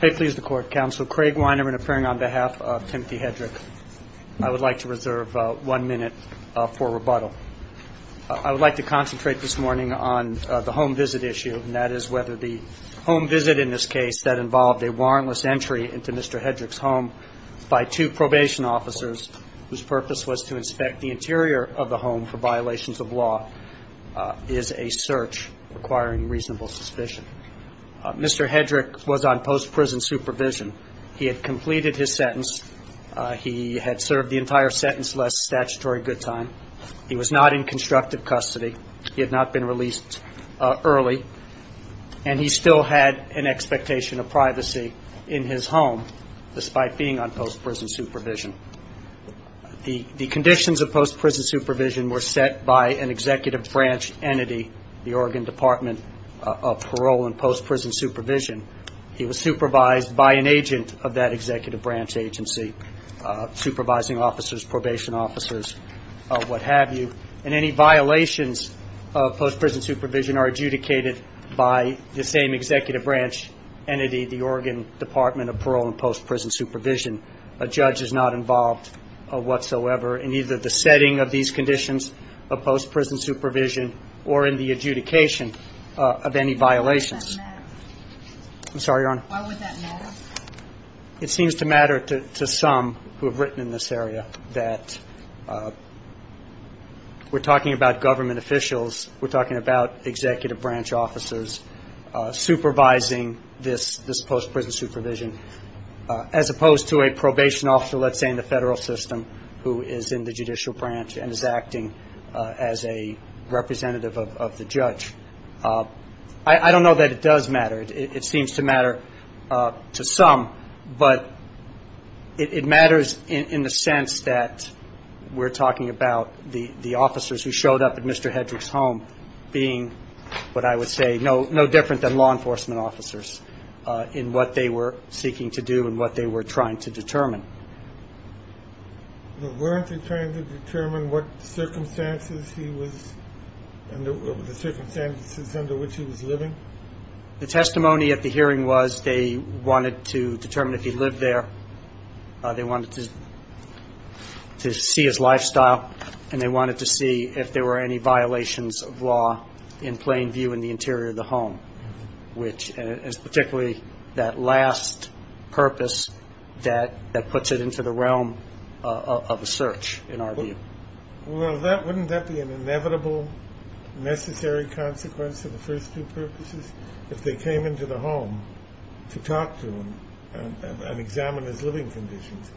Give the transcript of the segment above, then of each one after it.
I would like to reserve one minute for rebuttal. I would like to concentrate this morning on the home visit issue, and that is whether the home visit in this case that involved a warrantless entry into Mr. Hedrick's home by two probation officers whose purpose was to inspect the interior of the home for violations of law is a search requiring reasonable suspicion. Mr. Hedrick was on post-prison supervision. He had completed his sentence. He had served the entire sentence less statutory good time. He was not in constructive custody. He had not been released early, and he still had an expectation of privacy in his home despite being on post-prison supervision. The conditions of post-prison supervision were set by an executive branch entity, the Oregon Department of Parole and Post-Prison Supervision. He was supervised by an agent of that executive branch agency, supervising officers, probation officers, what have you, and any violations of post-prison supervision are adjudicated by the same executive branch entity, the Oregon Department of Parole and Post-Prison Supervision. A judge is not involved whatsoever in either the setting of these conditions of post-prison supervision or in the adjudication of any violations. Why would that matter? I'm sorry, Your Honor? Why would that matter? It seems to matter to some who have written in this area that we're talking about government officials, we're talking about executive branch officers supervising this post-prison supervision as opposed to a probation officer, let's say, in the federal system who is in the judicial branch and is acting as a representative of the judge. I don't know that it does matter. It seems to matter to some, but it matters in the sense that we're talking about the officers who showed up at Mr. Hedrick's home being, what I would say, no different than law enforcement officers in what they were seeking to do and what they were trying to determine. Weren't they trying to determine what circumstances he was under, the circumstances under which he was living? The testimony at the hearing was they wanted to determine if he lived there, they wanted to see his lifestyle, and they wanted to see if there were any violations of law in plain view in the interior of the home, which is particularly that last purpose that puts it into the realm of a search, in our view. Well, wouldn't that be an inevitable, necessary consequence of the first two purposes? If they came into the home to talk to him and examine his living conditions,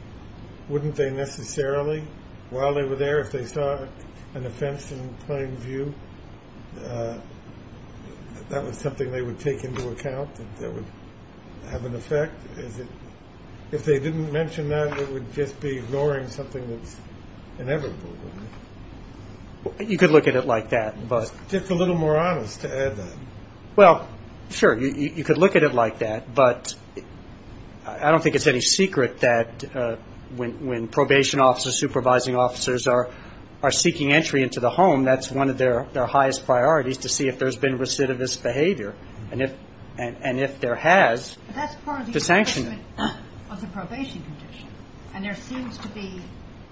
wouldn't they necessarily, while they were there, if they saw an offense in plain view, that was something they would take into account, that would have an effect? If they didn't mention that, it would just be ignoring something that's inevitable, wouldn't it? You could look at it like that. Just a little more honest, to add that. Well, sure, you could look at it like that, but I don't think it's any secret that when probation officers, supervising officers are seeking entry into the home, that's one of their highest priorities, to see if there's been recidivist behavior. And if there has, to sanction it. But that's part of the enforcement of the probation condition. And there seems to be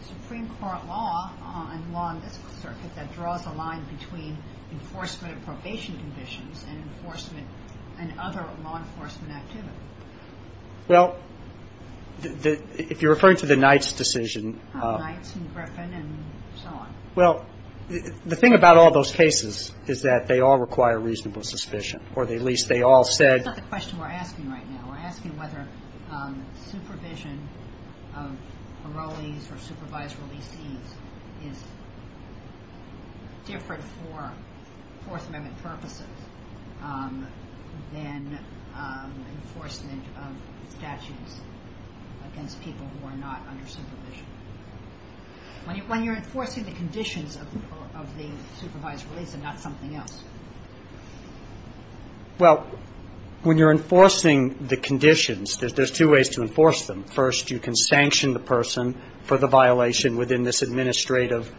Supreme Court law and law in this circuit that draws a line between enforcement of probation conditions and enforcement and other law enforcement activity. Well, if you're referring to the Knights decision. The Knights and Griffin and so on. Well, the thing about all those cases is that they all require reasonable suspicion, or at least they all said. That's not the question we're asking right now. We're asking whether supervision of parolees or supervised releasees is different for Fourth Amendment purposes than enforcement of statutes against people who are not under supervision. When you're enforcing the conditions of the supervised release and not something else. Well, when you're enforcing the conditions, there's two ways to enforce them. First, you can sanction the person for the violation within this administrative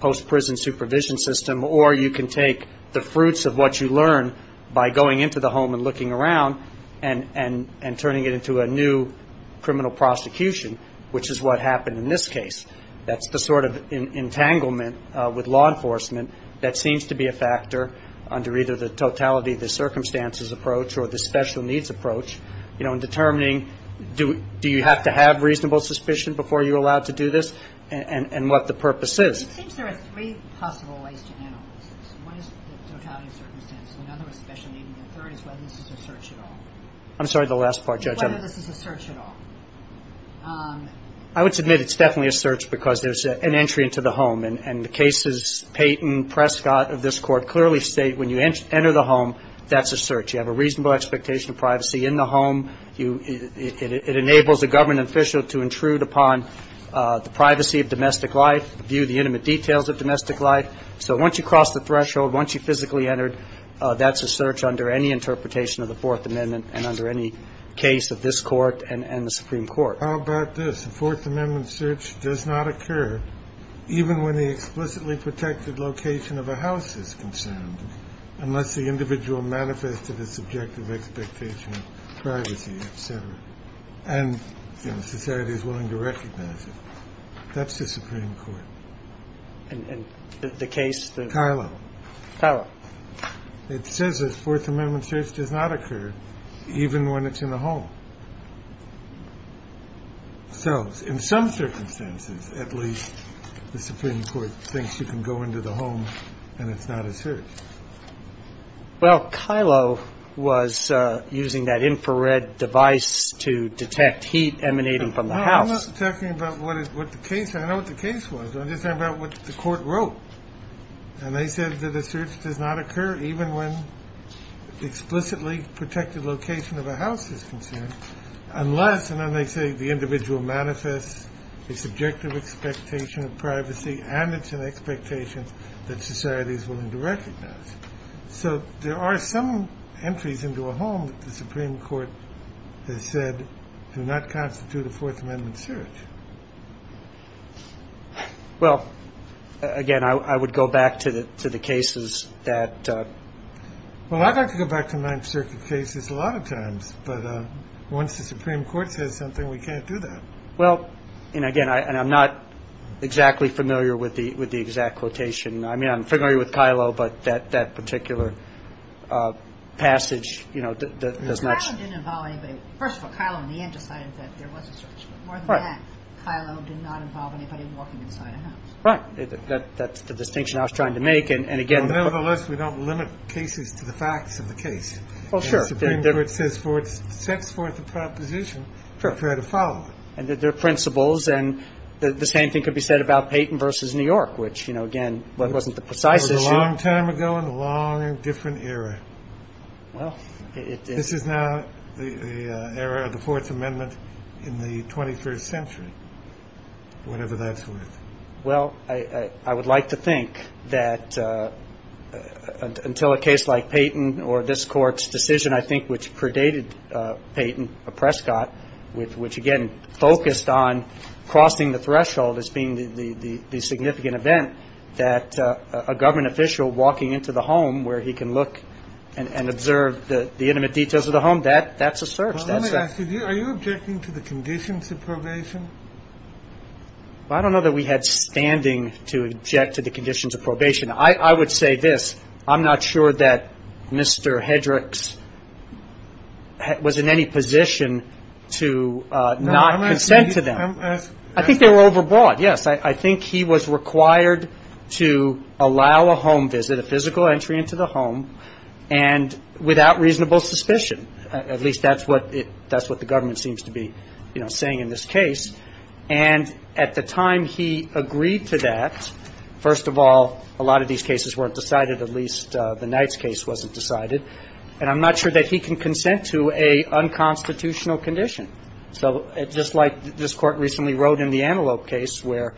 post-prison supervision system. Or you can take the fruits of what you learn by going into the home and looking around and turning it into a new criminal prosecution. Which is what happened in this case. That's the sort of entanglement with law enforcement that seems to be a factor under either the totality of the circumstances approach or the special needs approach. You know, in determining do you have to have reasonable suspicion before you're allowed to do this and what the purpose is. It seems there are three possible ways to analyze this. One is the totality of circumstances. Another is special needs. And the third is whether this is a search at all. I'm sorry, the last part, Judge. Whether this is a search at all. I would submit it's definitely a search because there's an entry into the home. And the cases Payton, Prescott of this Court clearly state when you enter the home, that's a search. You have a reasonable expectation of privacy in the home. It enables a government official to intrude upon the privacy of domestic life, view the intimate details of domestic life. So once you cross the threshold, once you physically enter, that's a search under any interpretation of the Fourth Amendment and under any case of this Court and the Supreme Court. How about this? A Fourth Amendment search does not occur even when the explicitly protected location of a house is concerned, unless the individual manifested a subjective expectation of privacy, et cetera. And, you know, society is willing to recognize it. That's the Supreme Court. And the case that. Tyler. Tyler. It says that Fourth Amendment search does not occur even when it's in the home. So in some circumstances, at least the Supreme Court thinks you can go into the home and it's not a search. Well, Kylo was using that infrared device to detect heat emanating from the house. I'm not talking about what is what the case. I know what the case was. I'm just talking about what the court wrote. And they said that a search does not occur even when explicitly protected location of a house is concerned, unless and then they say the individual manifests a subjective expectation of privacy and it's an expectation that society is willing to recognize. So there are some entries into a home that the Supreme Court has said do not constitute a Fourth Amendment search. Well, again, I would go back to the to the cases that. Well, I'd like to go back to the Ninth Circuit cases a lot of times. But once the Supreme Court says something, we can't do that. Well, and again, and I'm not exactly familiar with the with the exact quotation. I mean, I'm familiar with Kylo, but that that particular passage, you know, First of all, Kylo in the end decided that there was a search. But more than that, Kylo did not involve anybody walking inside a house. Right. That's the distinction I was trying to make. And again, nevertheless, we don't limit cases to the facts of the case. Well, sure. The Supreme Court sets forth the proposition, prepare to follow it. And there are principles. And the same thing could be said about Peyton versus New York, which, you know, again, wasn't the precise issue. It was a long time ago and a long and different era. Well, this is now the era of the Fourth Amendment in the 21st century, whatever that's worth. Well, I would like to think that until a case like Peyton or this court's decision, I think, which predated Peyton, a Prescott with which, again, focused on crossing the threshold as being the significant event that a government official walking into the home where he can look and observe the intimate details of the home, that's a search. Are you objecting to the conditions of probation? I don't know that we had standing to object to the conditions of probation. I would say this. I'm not sure that Mr. Hedricks was in any position to not consent to them. I think they were overbought, yes. I think he was required to allow a home visit, a physical entry into the home, and without reasonable suspicion. At least that's what the government seems to be, you know, saying in this case. And at the time he agreed to that, first of all, a lot of these cases weren't decided. At least the Knight's case wasn't decided. And I'm not sure that he can consent to an unconstitutional condition. So just like this Court recently wrote in the Antelope case where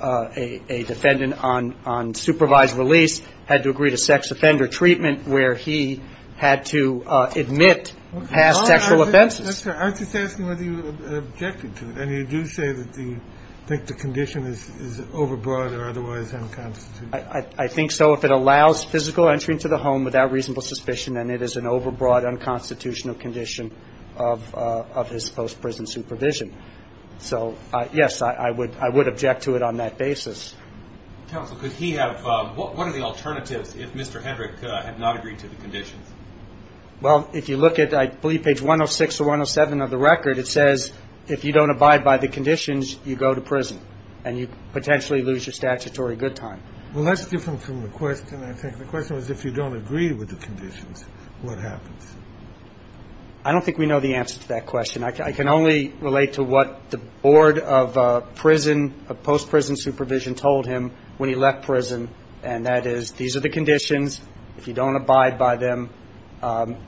a defendant on supervised release had to agree to sex offender treatment where he had to admit past sexual offenses. Aren't you just asking whether you objected to it? And you do say that you think the condition is overbought or otherwise unconstitutional. I think so. If it allows physical entry into the home without reasonable suspicion, then it is an overbought, unconstitutional condition of his post-prison supervision. So, yes, I would object to it on that basis. Counsel, what are the alternatives if Mr. Hedrick had not agreed to the conditions? Well, if you look at, I believe, page 106 or 107 of the record, it says if you don't abide by the conditions, you go to prison and you potentially lose your statutory good time. Well, that's different from the question, I think. The question was if you don't agree with the conditions, what happens? I don't think we know the answer to that question. I can only relate to what the board of prison, of post-prison supervision, told him when he left prison, and that is these are the conditions. If you don't abide by them,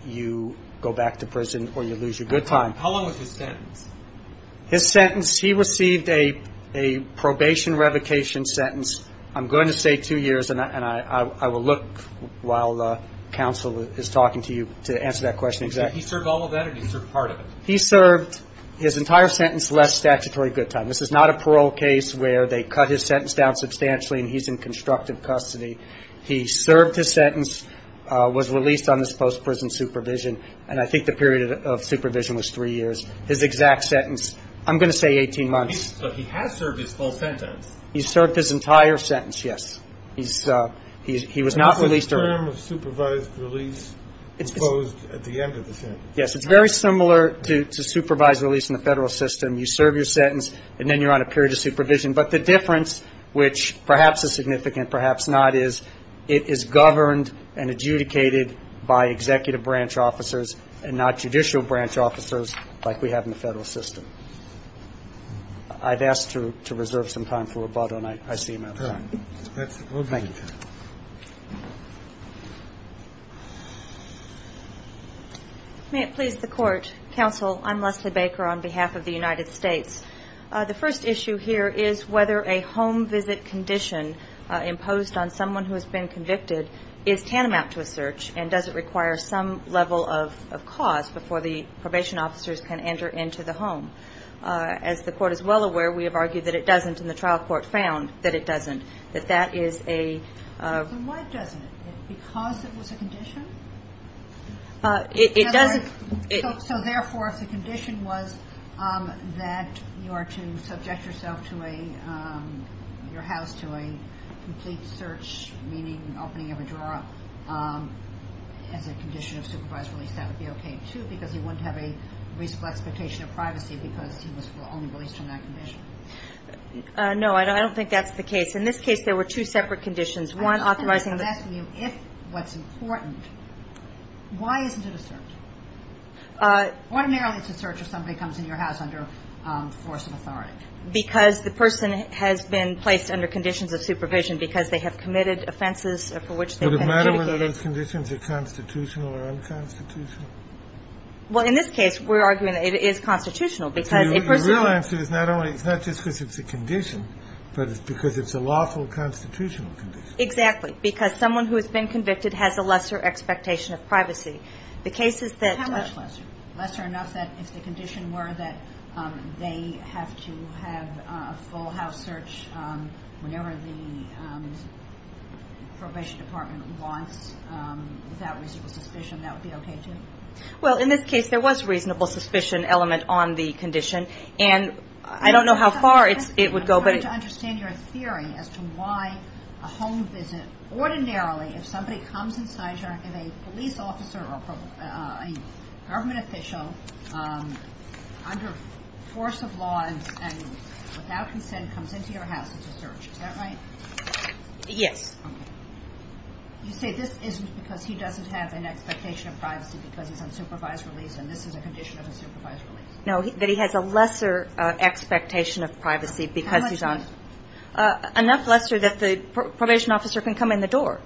you go back to prison or you lose your good time. How long was his sentence? His sentence, he received a probation revocation sentence, I'm going to say two years, and I will look while counsel is talking to you to answer that question exactly. Did he serve all of that or did he serve part of it? He served his entire sentence, less statutory good time. This is not a parole case where they cut his sentence down substantially and he's in constructive custody. He served his sentence, was released on his post-prison supervision, and I think the period of supervision was three years. His exact sentence, I'm going to say 18 months. So he has served his full sentence. He served his entire sentence, yes. He was not released early. Was the term of supervised release proposed at the end of the sentence? Yes. It's very similar to supervised release in the federal system. You serve your sentence and then you're on a period of supervision. But the difference, which perhaps is significant, perhaps not, is it is governed and adjudicated by executive branch officers and not judicial branch officers like we have in the federal system. I've asked to reserve some time for rebuttal and I see no time. Thank you. May it please the Court. Counsel, I'm Leslie Baker on behalf of the United States. The first issue here is whether a home visit condition imposed on someone who has been convicted is tantamount to a search and does it require some level of cause before the probation officers can enter into the home. As the Court is well aware, we have argued that it doesn't and the trial court found that it doesn't. That that is a... Why doesn't it? Because it was a condition? It doesn't... So, therefore, if the condition was that you are to subject yourself to a, your house to a complete search, meaning opening of a drawer, as a condition of supervised release, that would be okay, too, because you wouldn't have a reasonable expectation of privacy because he was only released on that condition. No, I don't think that's the case. In this case, there were two separate conditions. I don't think I'm asking you if what's important. Why isn't it a search? Automatically, it's a search if somebody comes into your house under force of authority. Because the person has been placed under conditions of supervision because they have committed offenses for which they've been... Would it matter whether those conditions are constitutional or unconstitutional? Well, in this case, we're arguing that it is constitutional because a person... It's not just because it's a condition, but it's because it's a lawful constitutional condition. Exactly, because someone who has been convicted has a lesser expectation of privacy. The case is that... How much lesser? Lesser enough that if the condition were that they have to have a full house search whenever the probation department wants without reasonable suspicion, that would be okay, too? Well, in this case, there was reasonable suspicion element on the condition, and I don't know how far it would go, but... I'm trying to understand your theory as to why a home visit... Ordinarily, if somebody comes inside your... If a police officer or a government official under force of law and without consent comes into your house, it's a search. Is that right? Yes. Okay. You say this isn't because he doesn't have an expectation of privacy because he's on supervised release, and this is a condition of a supervised release. No, that he has a lesser expectation of privacy because he's on... How much lesser? Enough lesser that the probation officer can come in the door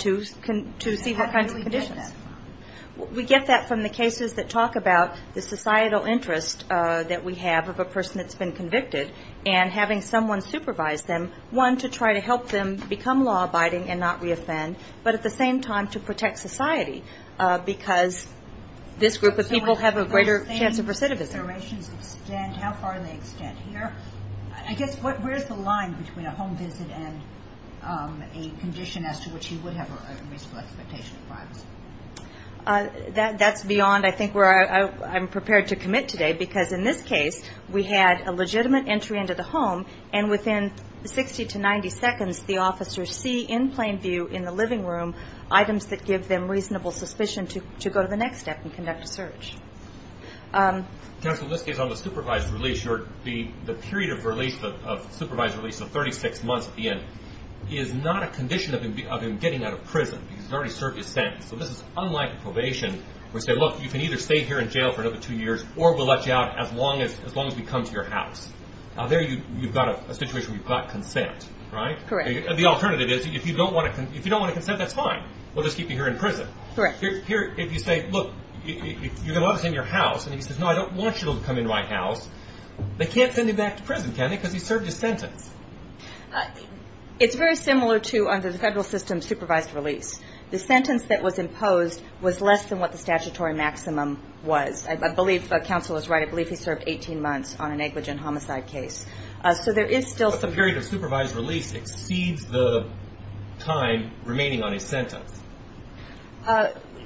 to see what kinds of conditions. How do we get that? We get that from the cases that talk about the societal interest that we have of a person that's been convicted and having someone supervise them, one, to try to help them become law-abiding and not reoffend, but at the same time to protect society because this group of people have a greater chance of recidivism. How far do they extend here? I guess, where's the line between a home visit and a condition as to which he would have a reasonable expectation of privacy? That's beyond, I think, where I'm prepared to commit today, because in this case, we had a legitimate entry into the home, and within 60 to 90 seconds, the officers see in plain view in the living room items that give them reasonable suspicion to go to the next step and conduct a search. Counsel, in this case, on the supervised release, the period of supervised release, so 36 months at the end, is not a condition of him getting out of prison because he's already served his sentence. So this is unlike probation where you say, look, you can either stay here in jail for another two years or we'll let you out as long as we come to your house. There you've got a situation where you've got consent, right? Correct. The alternative is if you don't want to consent, that's fine. We'll just keep you here in prison. Correct. Here, if you say, look, you're going to let us in your house, and he says, no, I don't want you to come into my house, they can't send him back to prison, can they, because he served his sentence. It's very similar to under the federal system, supervised release. The sentence that was imposed was less than what the statutory maximum was. I believe counsel is right. I believe he served 18 months on a negligent homicide case. So there is still some. A period of supervised release exceeds the time remaining on his sentence.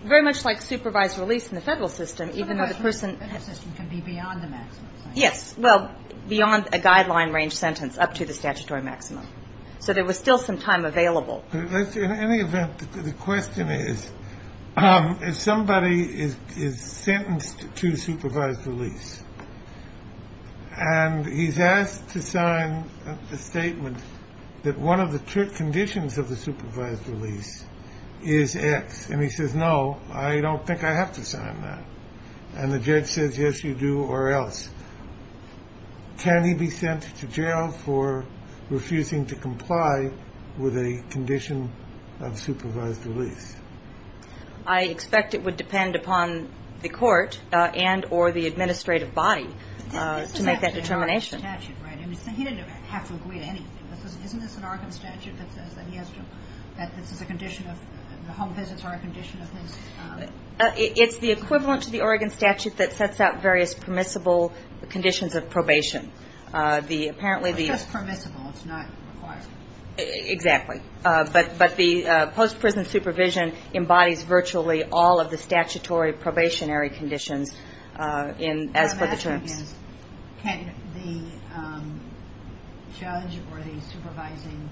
Very much like supervised release in the federal system, even though the person. The federal system can be beyond the maximum sentence. Yes. Well, beyond a guideline range sentence up to the statutory maximum. So there was still some time available. In any event, the question is, if somebody is sentenced to supervised release. And he's asked to sign a statement that one of the conditions of the supervised release is X. And he says, no, I don't think I have to sign that. And the judge says, yes, you do. Can he be sent to jail for refusing to comply with a condition of supervised release? I expect it would depend upon the court and or the administrative body to make that determination. He didn't have to agree to anything. Isn't this an Oregon statute that says that he has to, that this is a condition of the home visits are a condition of his. It's the equivalent to the Oregon statute that sets out various permissible conditions of probation. The apparently the permissible. It's not required. Exactly. But the post-prison supervision embodies virtually all of the statutory probationary conditions. And as for the terms. Can the judge or the supervising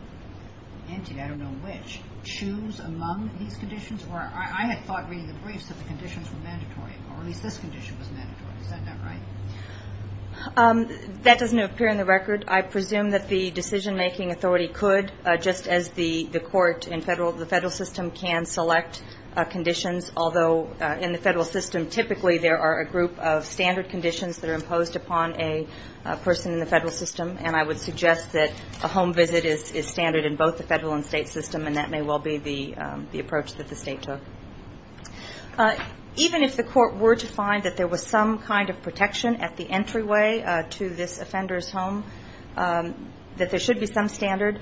entity, I don't know which, choose among these conditions? Or I had thought reading the briefs that the conditions were mandatory, or at least this condition was mandatory. Is that not right? That doesn't appear in the record. I presume that the decision-making authority could, just as the court and the federal system can select conditions. Although in the federal system, typically there are a group of standard conditions that are imposed upon a person in the federal system. And I would suggest that a home visit is standard in both the federal and state system. And that may well be the approach that the state took. Even if the court were to find that there was some kind of protection at the entryway to this offender's home, that there should be some standard.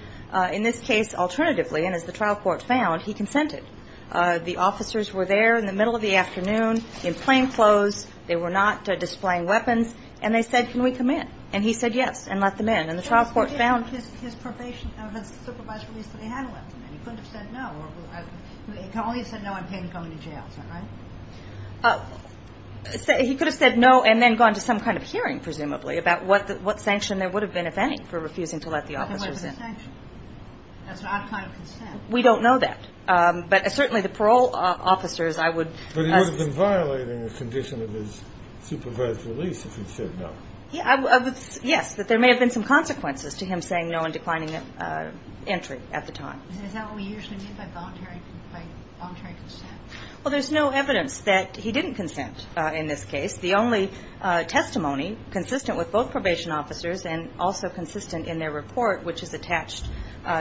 In this case, alternatively, and as the trial court found, he consented. The officers were there in the middle of the afternoon in plainclothes. They were not displaying weapons. And they said, can we come in? And he said yes and let them in. He could have said no and then gone to some kind of hearing, presumably, about what sanction there would have been, if any, for refusing to let the officers in. We don't know that. But certainly the parole officers, I would. But he would have been violating the condition of his supervised release if he said no. Yes, that there may have been some consequences to him saying no and declining entry at the time. Is that what we usually mean by voluntary consent? Well, there's no evidence that he didn't consent in this case. The only testimony consistent with both probation officers and also consistent in their report, which is attached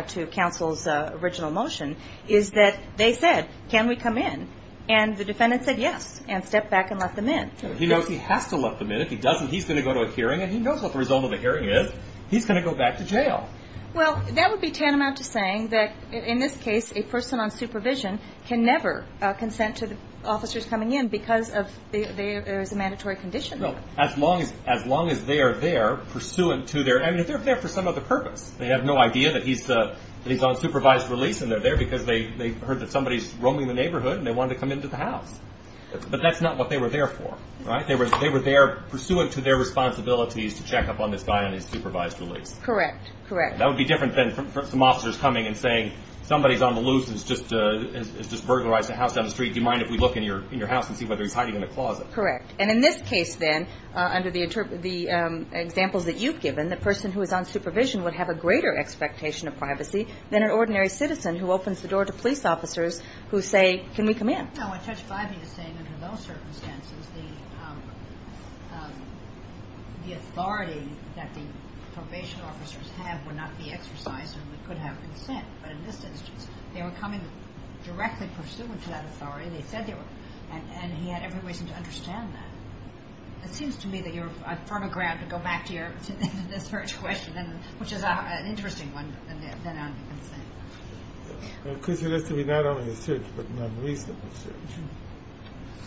to counsel's original motion, is that they said, can we come in? And the defendant said yes and stepped back and let them in. He knows he has to let them in. If he doesn't, he's going to go to a hearing and he knows what the result of the hearing is. He's going to go back to jail. Well, that would be tantamount to saying that, in this case, a person on supervision can never consent to the officers coming in because there is a mandatory condition. Well, as long as they are there, pursuant to their, I mean, if they're there for some other purpose. They have no idea that he's on supervised release and they're there because they heard that somebody's roaming the neighborhood and they wanted to come into the house. But that's not what they were there for, right? They were there pursuant to their responsibilities to check up on this guy on his supervised release. Correct, correct. That would be different than some officers coming and saying, somebody's on the loose and has just burglarized a house down the street. Do you mind if we look in your house and see whether he's hiding in a closet? Correct. And in this case, then, under the examples that you've given, the person who is on supervision would have a greater expectation of privacy than an ordinary citizen who opens the door to police officers who say, can we come in? No, I touched by what you're saying. Under those circumstances, the authority that the probation officers have would not be exercised and we could have consent. But in this instance, they were coming directly pursuant to that authority. They said they were. And he had every reason to understand that. It seems to me that you're on firm ground to go back to your search question, which is an interesting one. Because it has to be not only a search, but an unreasonable search.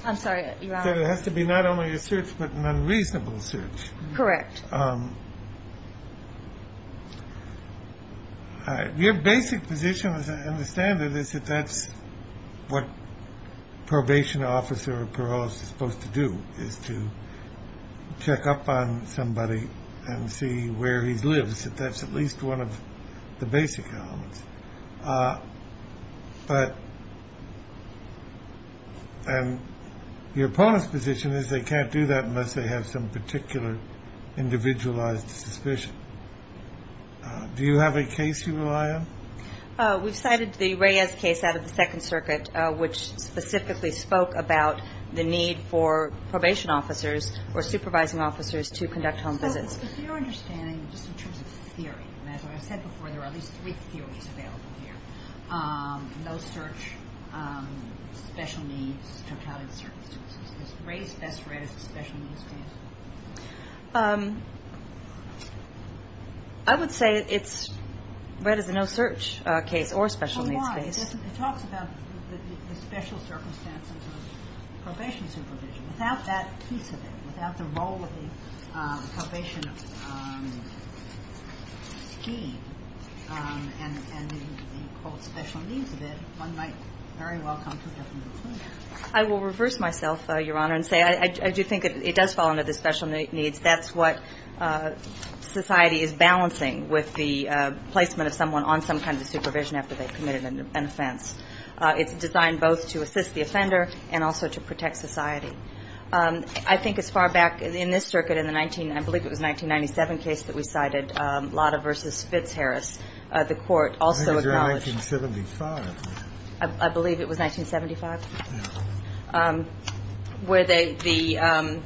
I'm sorry. It has to be not only a search, but an unreasonable search. Correct. Your basic position, as I understand it, is that that's what a probation officer or parole officer is supposed to do, is to check up on somebody and see where he lives, and I guess that that's at least one of the basic elements. But your opponent's position is they can't do that unless they have some particular individualized suspicion. Do you have a case you rely on? We've cited the Reyes case out of the Second Circuit, which specifically spoke about the need for probation officers or supervising officers to conduct home visits. But your understanding, just in terms of theory, and as I said before, there are at least three theories available here, no search, special needs, totality of circumstances. Is Reyes best read as a special needs case? I would say it's read as a no search case or a special needs case. But why? It talks about the special circumstances of probation supervision. Without that piece of it, without the role of the probation scheme and the, quote, special needs of it, one might very well come to a different conclusion. I will reverse myself, Your Honor, and say I do think it does fall under the special needs. That's what society is balancing with the placement of someone on some kind of supervision after they've committed an offense. It's designed both to assist the offender and also to protect society. I think as far back in this circuit, in the 19, I believe it was 1997 case that we cited, Lotta v. Fitzharris, the court also acknowledged. I think it was 1975. I believe it was 1975. No. Where the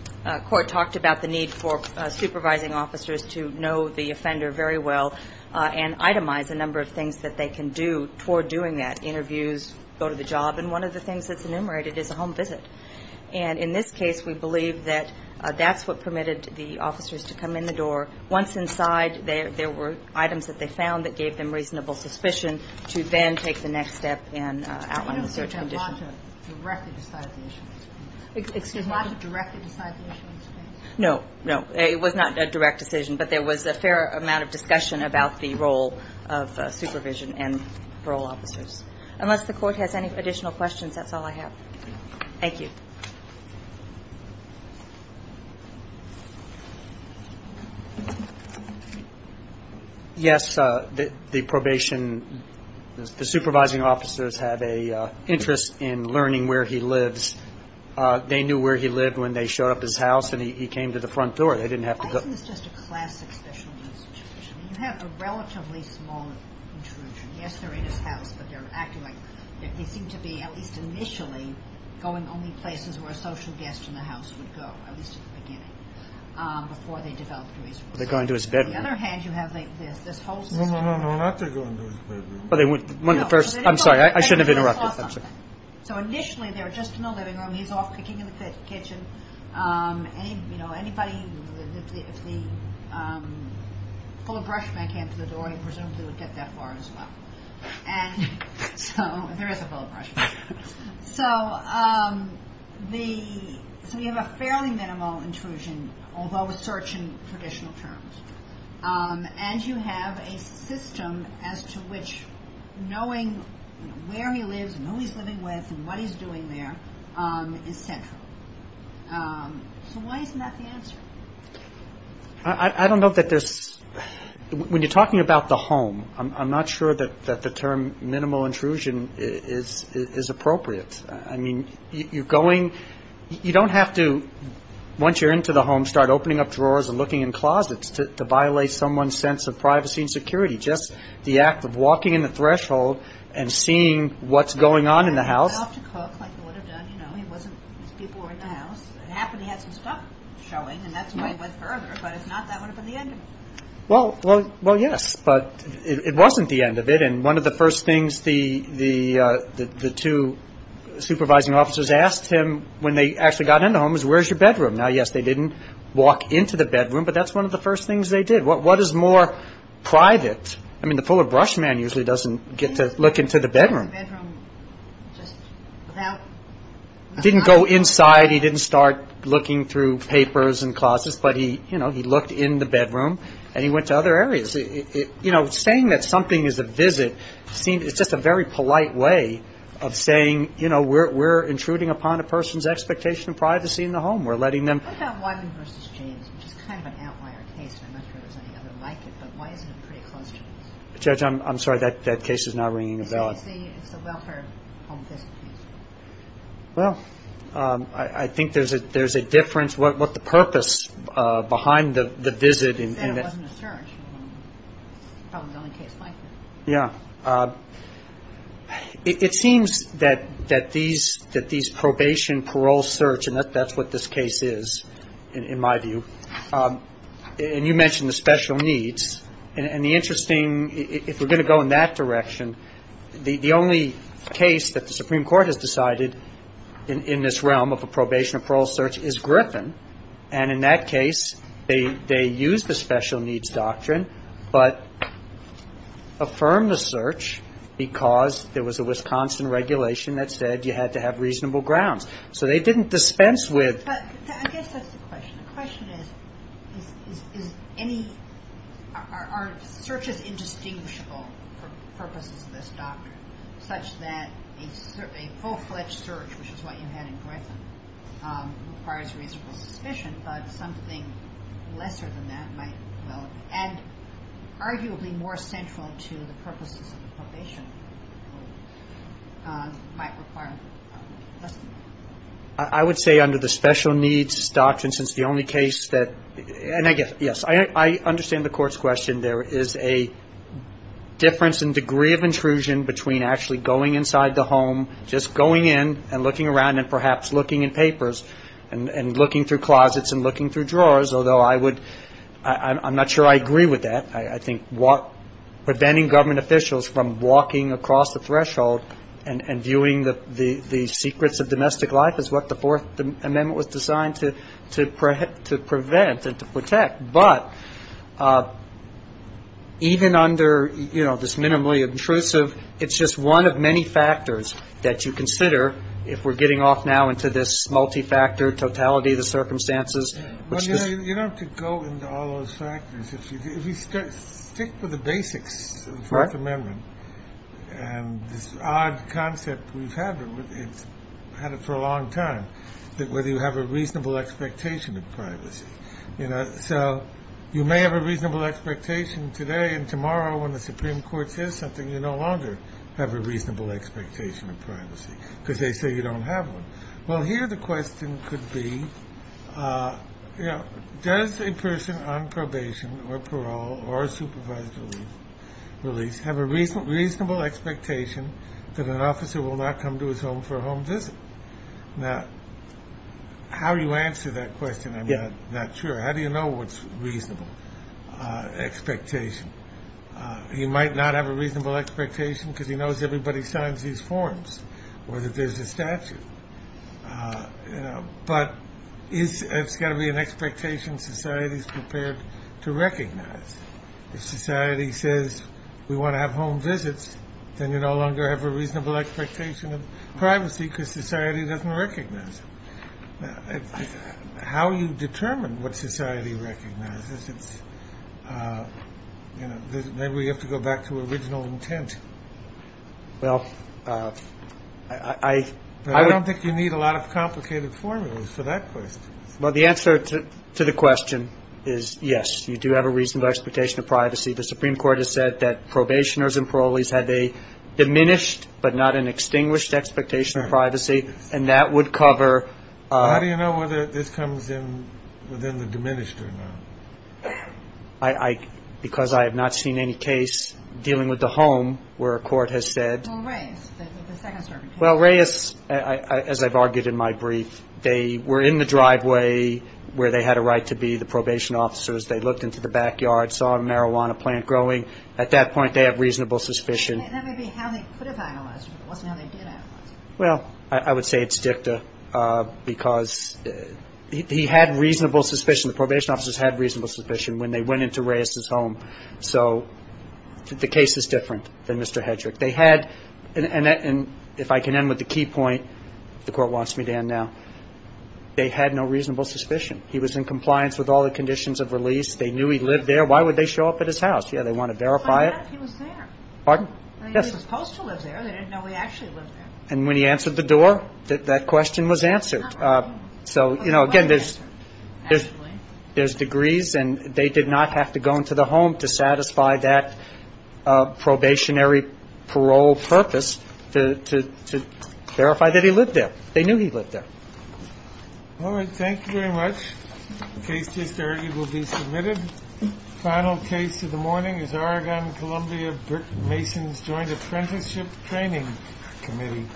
court talked about the need for supervising officers to know the offender very well and itemize a number of things that they can do toward doing that. Interviews, go to the job. And one of the things that's enumerated is a home visit. And in this case, we believe that that's what permitted the officers to come in the door. Once inside, there were items that they found that gave them reasonable suspicion to then take the next step and outline the search condition. I don't think that Lotta directly decided the issue. Excuse me? Did Lotta directly decide the issue in this case? No. No. It was not a direct decision. But there was a fair amount of discussion about the role of supervision and parole officers. Unless the court has any additional questions, that's all I have. Thank you. Yes. The probation, the supervising officers have an interest in learning where he lives. They knew where he lived when they showed up at his house and he came to the front door. They didn't have to go. Isn't this just a classic special needs situation? You have a relatively small intrusion. Yes, they're in his house, but they're acting like they seem to be, at least initially, going only places where a social guest in the house would go, at least at the beginning, before they developed a reasonable suspicion. They go into his bedroom. On the other hand, you have this hostess. No, no, no. Not to go into his bedroom. One of the first. I'm sorry. I shouldn't have interrupted. So initially, they were just in the living room. He's off cooking in the kitchen. If the fuller brushman came to the door, he presumably would get that far as well. There is a fuller brushman. So you have a fairly minimal intrusion, although a search in traditional terms. And you have a system as to which knowing where he lives and who he's living with and what he's doing there is central. So why isn't that the answer? I don't know that there's – when you're talking about the home, I'm not sure that the term minimal intrusion is appropriate. I mean, you're going – you don't have to, once you're into the home, start opening up drawers and looking in closets to violate someone's sense of privacy and security. Just the act of walking in the threshold and seeing what's going on in the house. He's off to cook, like he would have done. You know, he wasn't – his people were in the house. It happened he had some stuff showing, and that's why he went further. But if not, that would have been the end of it. Well, yes, but it wasn't the end of it. And one of the first things the two supervising officers asked him when they actually got into the home was, where's your bedroom? Now, yes, they didn't walk into the bedroom, but that's one of the first things they did. What is more private? I mean, the fuller brush man usually doesn't get to look into the bedroom. He went into the bedroom just without – He didn't go inside. He didn't start looking through papers and closets, but he, you know, he looked in the bedroom, and he went to other areas. You know, saying that something is a visit seems – it's just a very polite way of saying, you know, we're intruding upon a person's expectation of privacy in the home. We're letting them – What about Wyman v. James, which is kind of an outlier case, and I'm not sure there's any other like it, but why isn't it pretty close to us? Judge, I'm sorry. That case is now ringing a bell. It's a welfare home visit case. Well, I think there's a difference. What the purpose behind the visit – They said it wasn't a search. Probably the only case like it. Yeah. It seems that these probation, parole search – and that's what this case is, in my view. And you mentioned the special needs. And the interesting – if we're going to go in that direction, the only case that the Supreme Court has decided in this realm of a probation and parole search is Griffin, and in that case, they used the special needs doctrine but affirmed the search because there was a Wisconsin regulation that said you had to have reasonable grounds. So they didn't dispense with – But I guess that's the question. The question is, is any – are searches indistinguishable for purposes of this doctrine, such that a full-fledged search, which is what you had in Griffin, requires reasonable suspicion, but something lesser than that might – and arguably more central to the purposes of the probation might require less than that. I would say under the special needs doctrine, since the only case that – and I guess, yes, I understand the Court's question. There is a difference in degree of intrusion between actually going inside the home, just going in and looking around and perhaps looking in papers and looking through closets and looking through drawers, although I would – I'm not sure I agree with that. I think preventing government officials from walking across the threshold and viewing the secrets of domestic life is what the Fourth Amendment was designed to prevent and to protect. But even under, you know, this minimally intrusive, it's just one of many factors that you consider if we're getting off now into this multi-factor totality of the circumstances. Well, you don't have to go into all those factors. If you stick with the basics of the Fourth Amendment, and this odd concept we've had for a long time, whether you have a reasonable expectation of privacy. So you may have a reasonable expectation today, and tomorrow when the Supreme Court says something, you no longer have a reasonable expectation of privacy because they say you don't have one. Well, here the question could be, you know, does a person on probation or parole or supervised release have a reasonable expectation that an officer will not come to his home for a home visit? Now, how do you answer that question? I'm not sure. How do you know what's a reasonable expectation? He might not have a reasonable expectation because he knows everybody signs these forms or that there's a statute. But it's got to be an expectation society's prepared to recognize. If society says we want to have home visits, then you no longer have a reasonable expectation of privacy because society doesn't recognize it. How you determine what society recognizes, it's, you know, maybe we have to go back to original intent. Well, I don't think you need a lot of complicated formulas for that question. Well, the answer to the question is yes, you do have a reasonable expectation of privacy. The Supreme Court has said that probationers and parolees had a diminished but not an extinguished expectation of privacy, and that would cover – How do you know whether this comes in within the diminished or not? Because I have not seen any case dealing with the home where a court has said – Well, Reyes, the second servant case. Well, Reyes, as I've argued in my brief, they were in the driveway where they had a right to be the probation officers. They looked into the backyard, saw a marijuana plant growing. At that point, they have reasonable suspicion. That may be how they could have analyzed it, but it wasn't how they did analyze it. Well, I would say it's dicta because he had reasonable suspicion. The probation officers had reasonable suspicion when they went into Reyes' home. So the case is different than Mr. Hedrick. They had – and if I can end with the key point, if the Court wants me to end now, they had no reasonable suspicion. He was in compliance with all the conditions of release. They knew he lived there. Why would they show up at his house? Yeah, they want to verify it. He was there. Pardon? He was supposed to live there. They didn't know he actually lived there. And when he answered the door, that question was answered. So, you know, again, there's degrees, and they did not have to go into the home to satisfy that probationary parole purpose to verify that he lived there. They knew he lived there. All right. Thank you very much. The case just argued will be submitted. The final case of the morning is Oregon-Columbia-Burton-Masons Joint Apprenticeship Training Committee v. Gordon.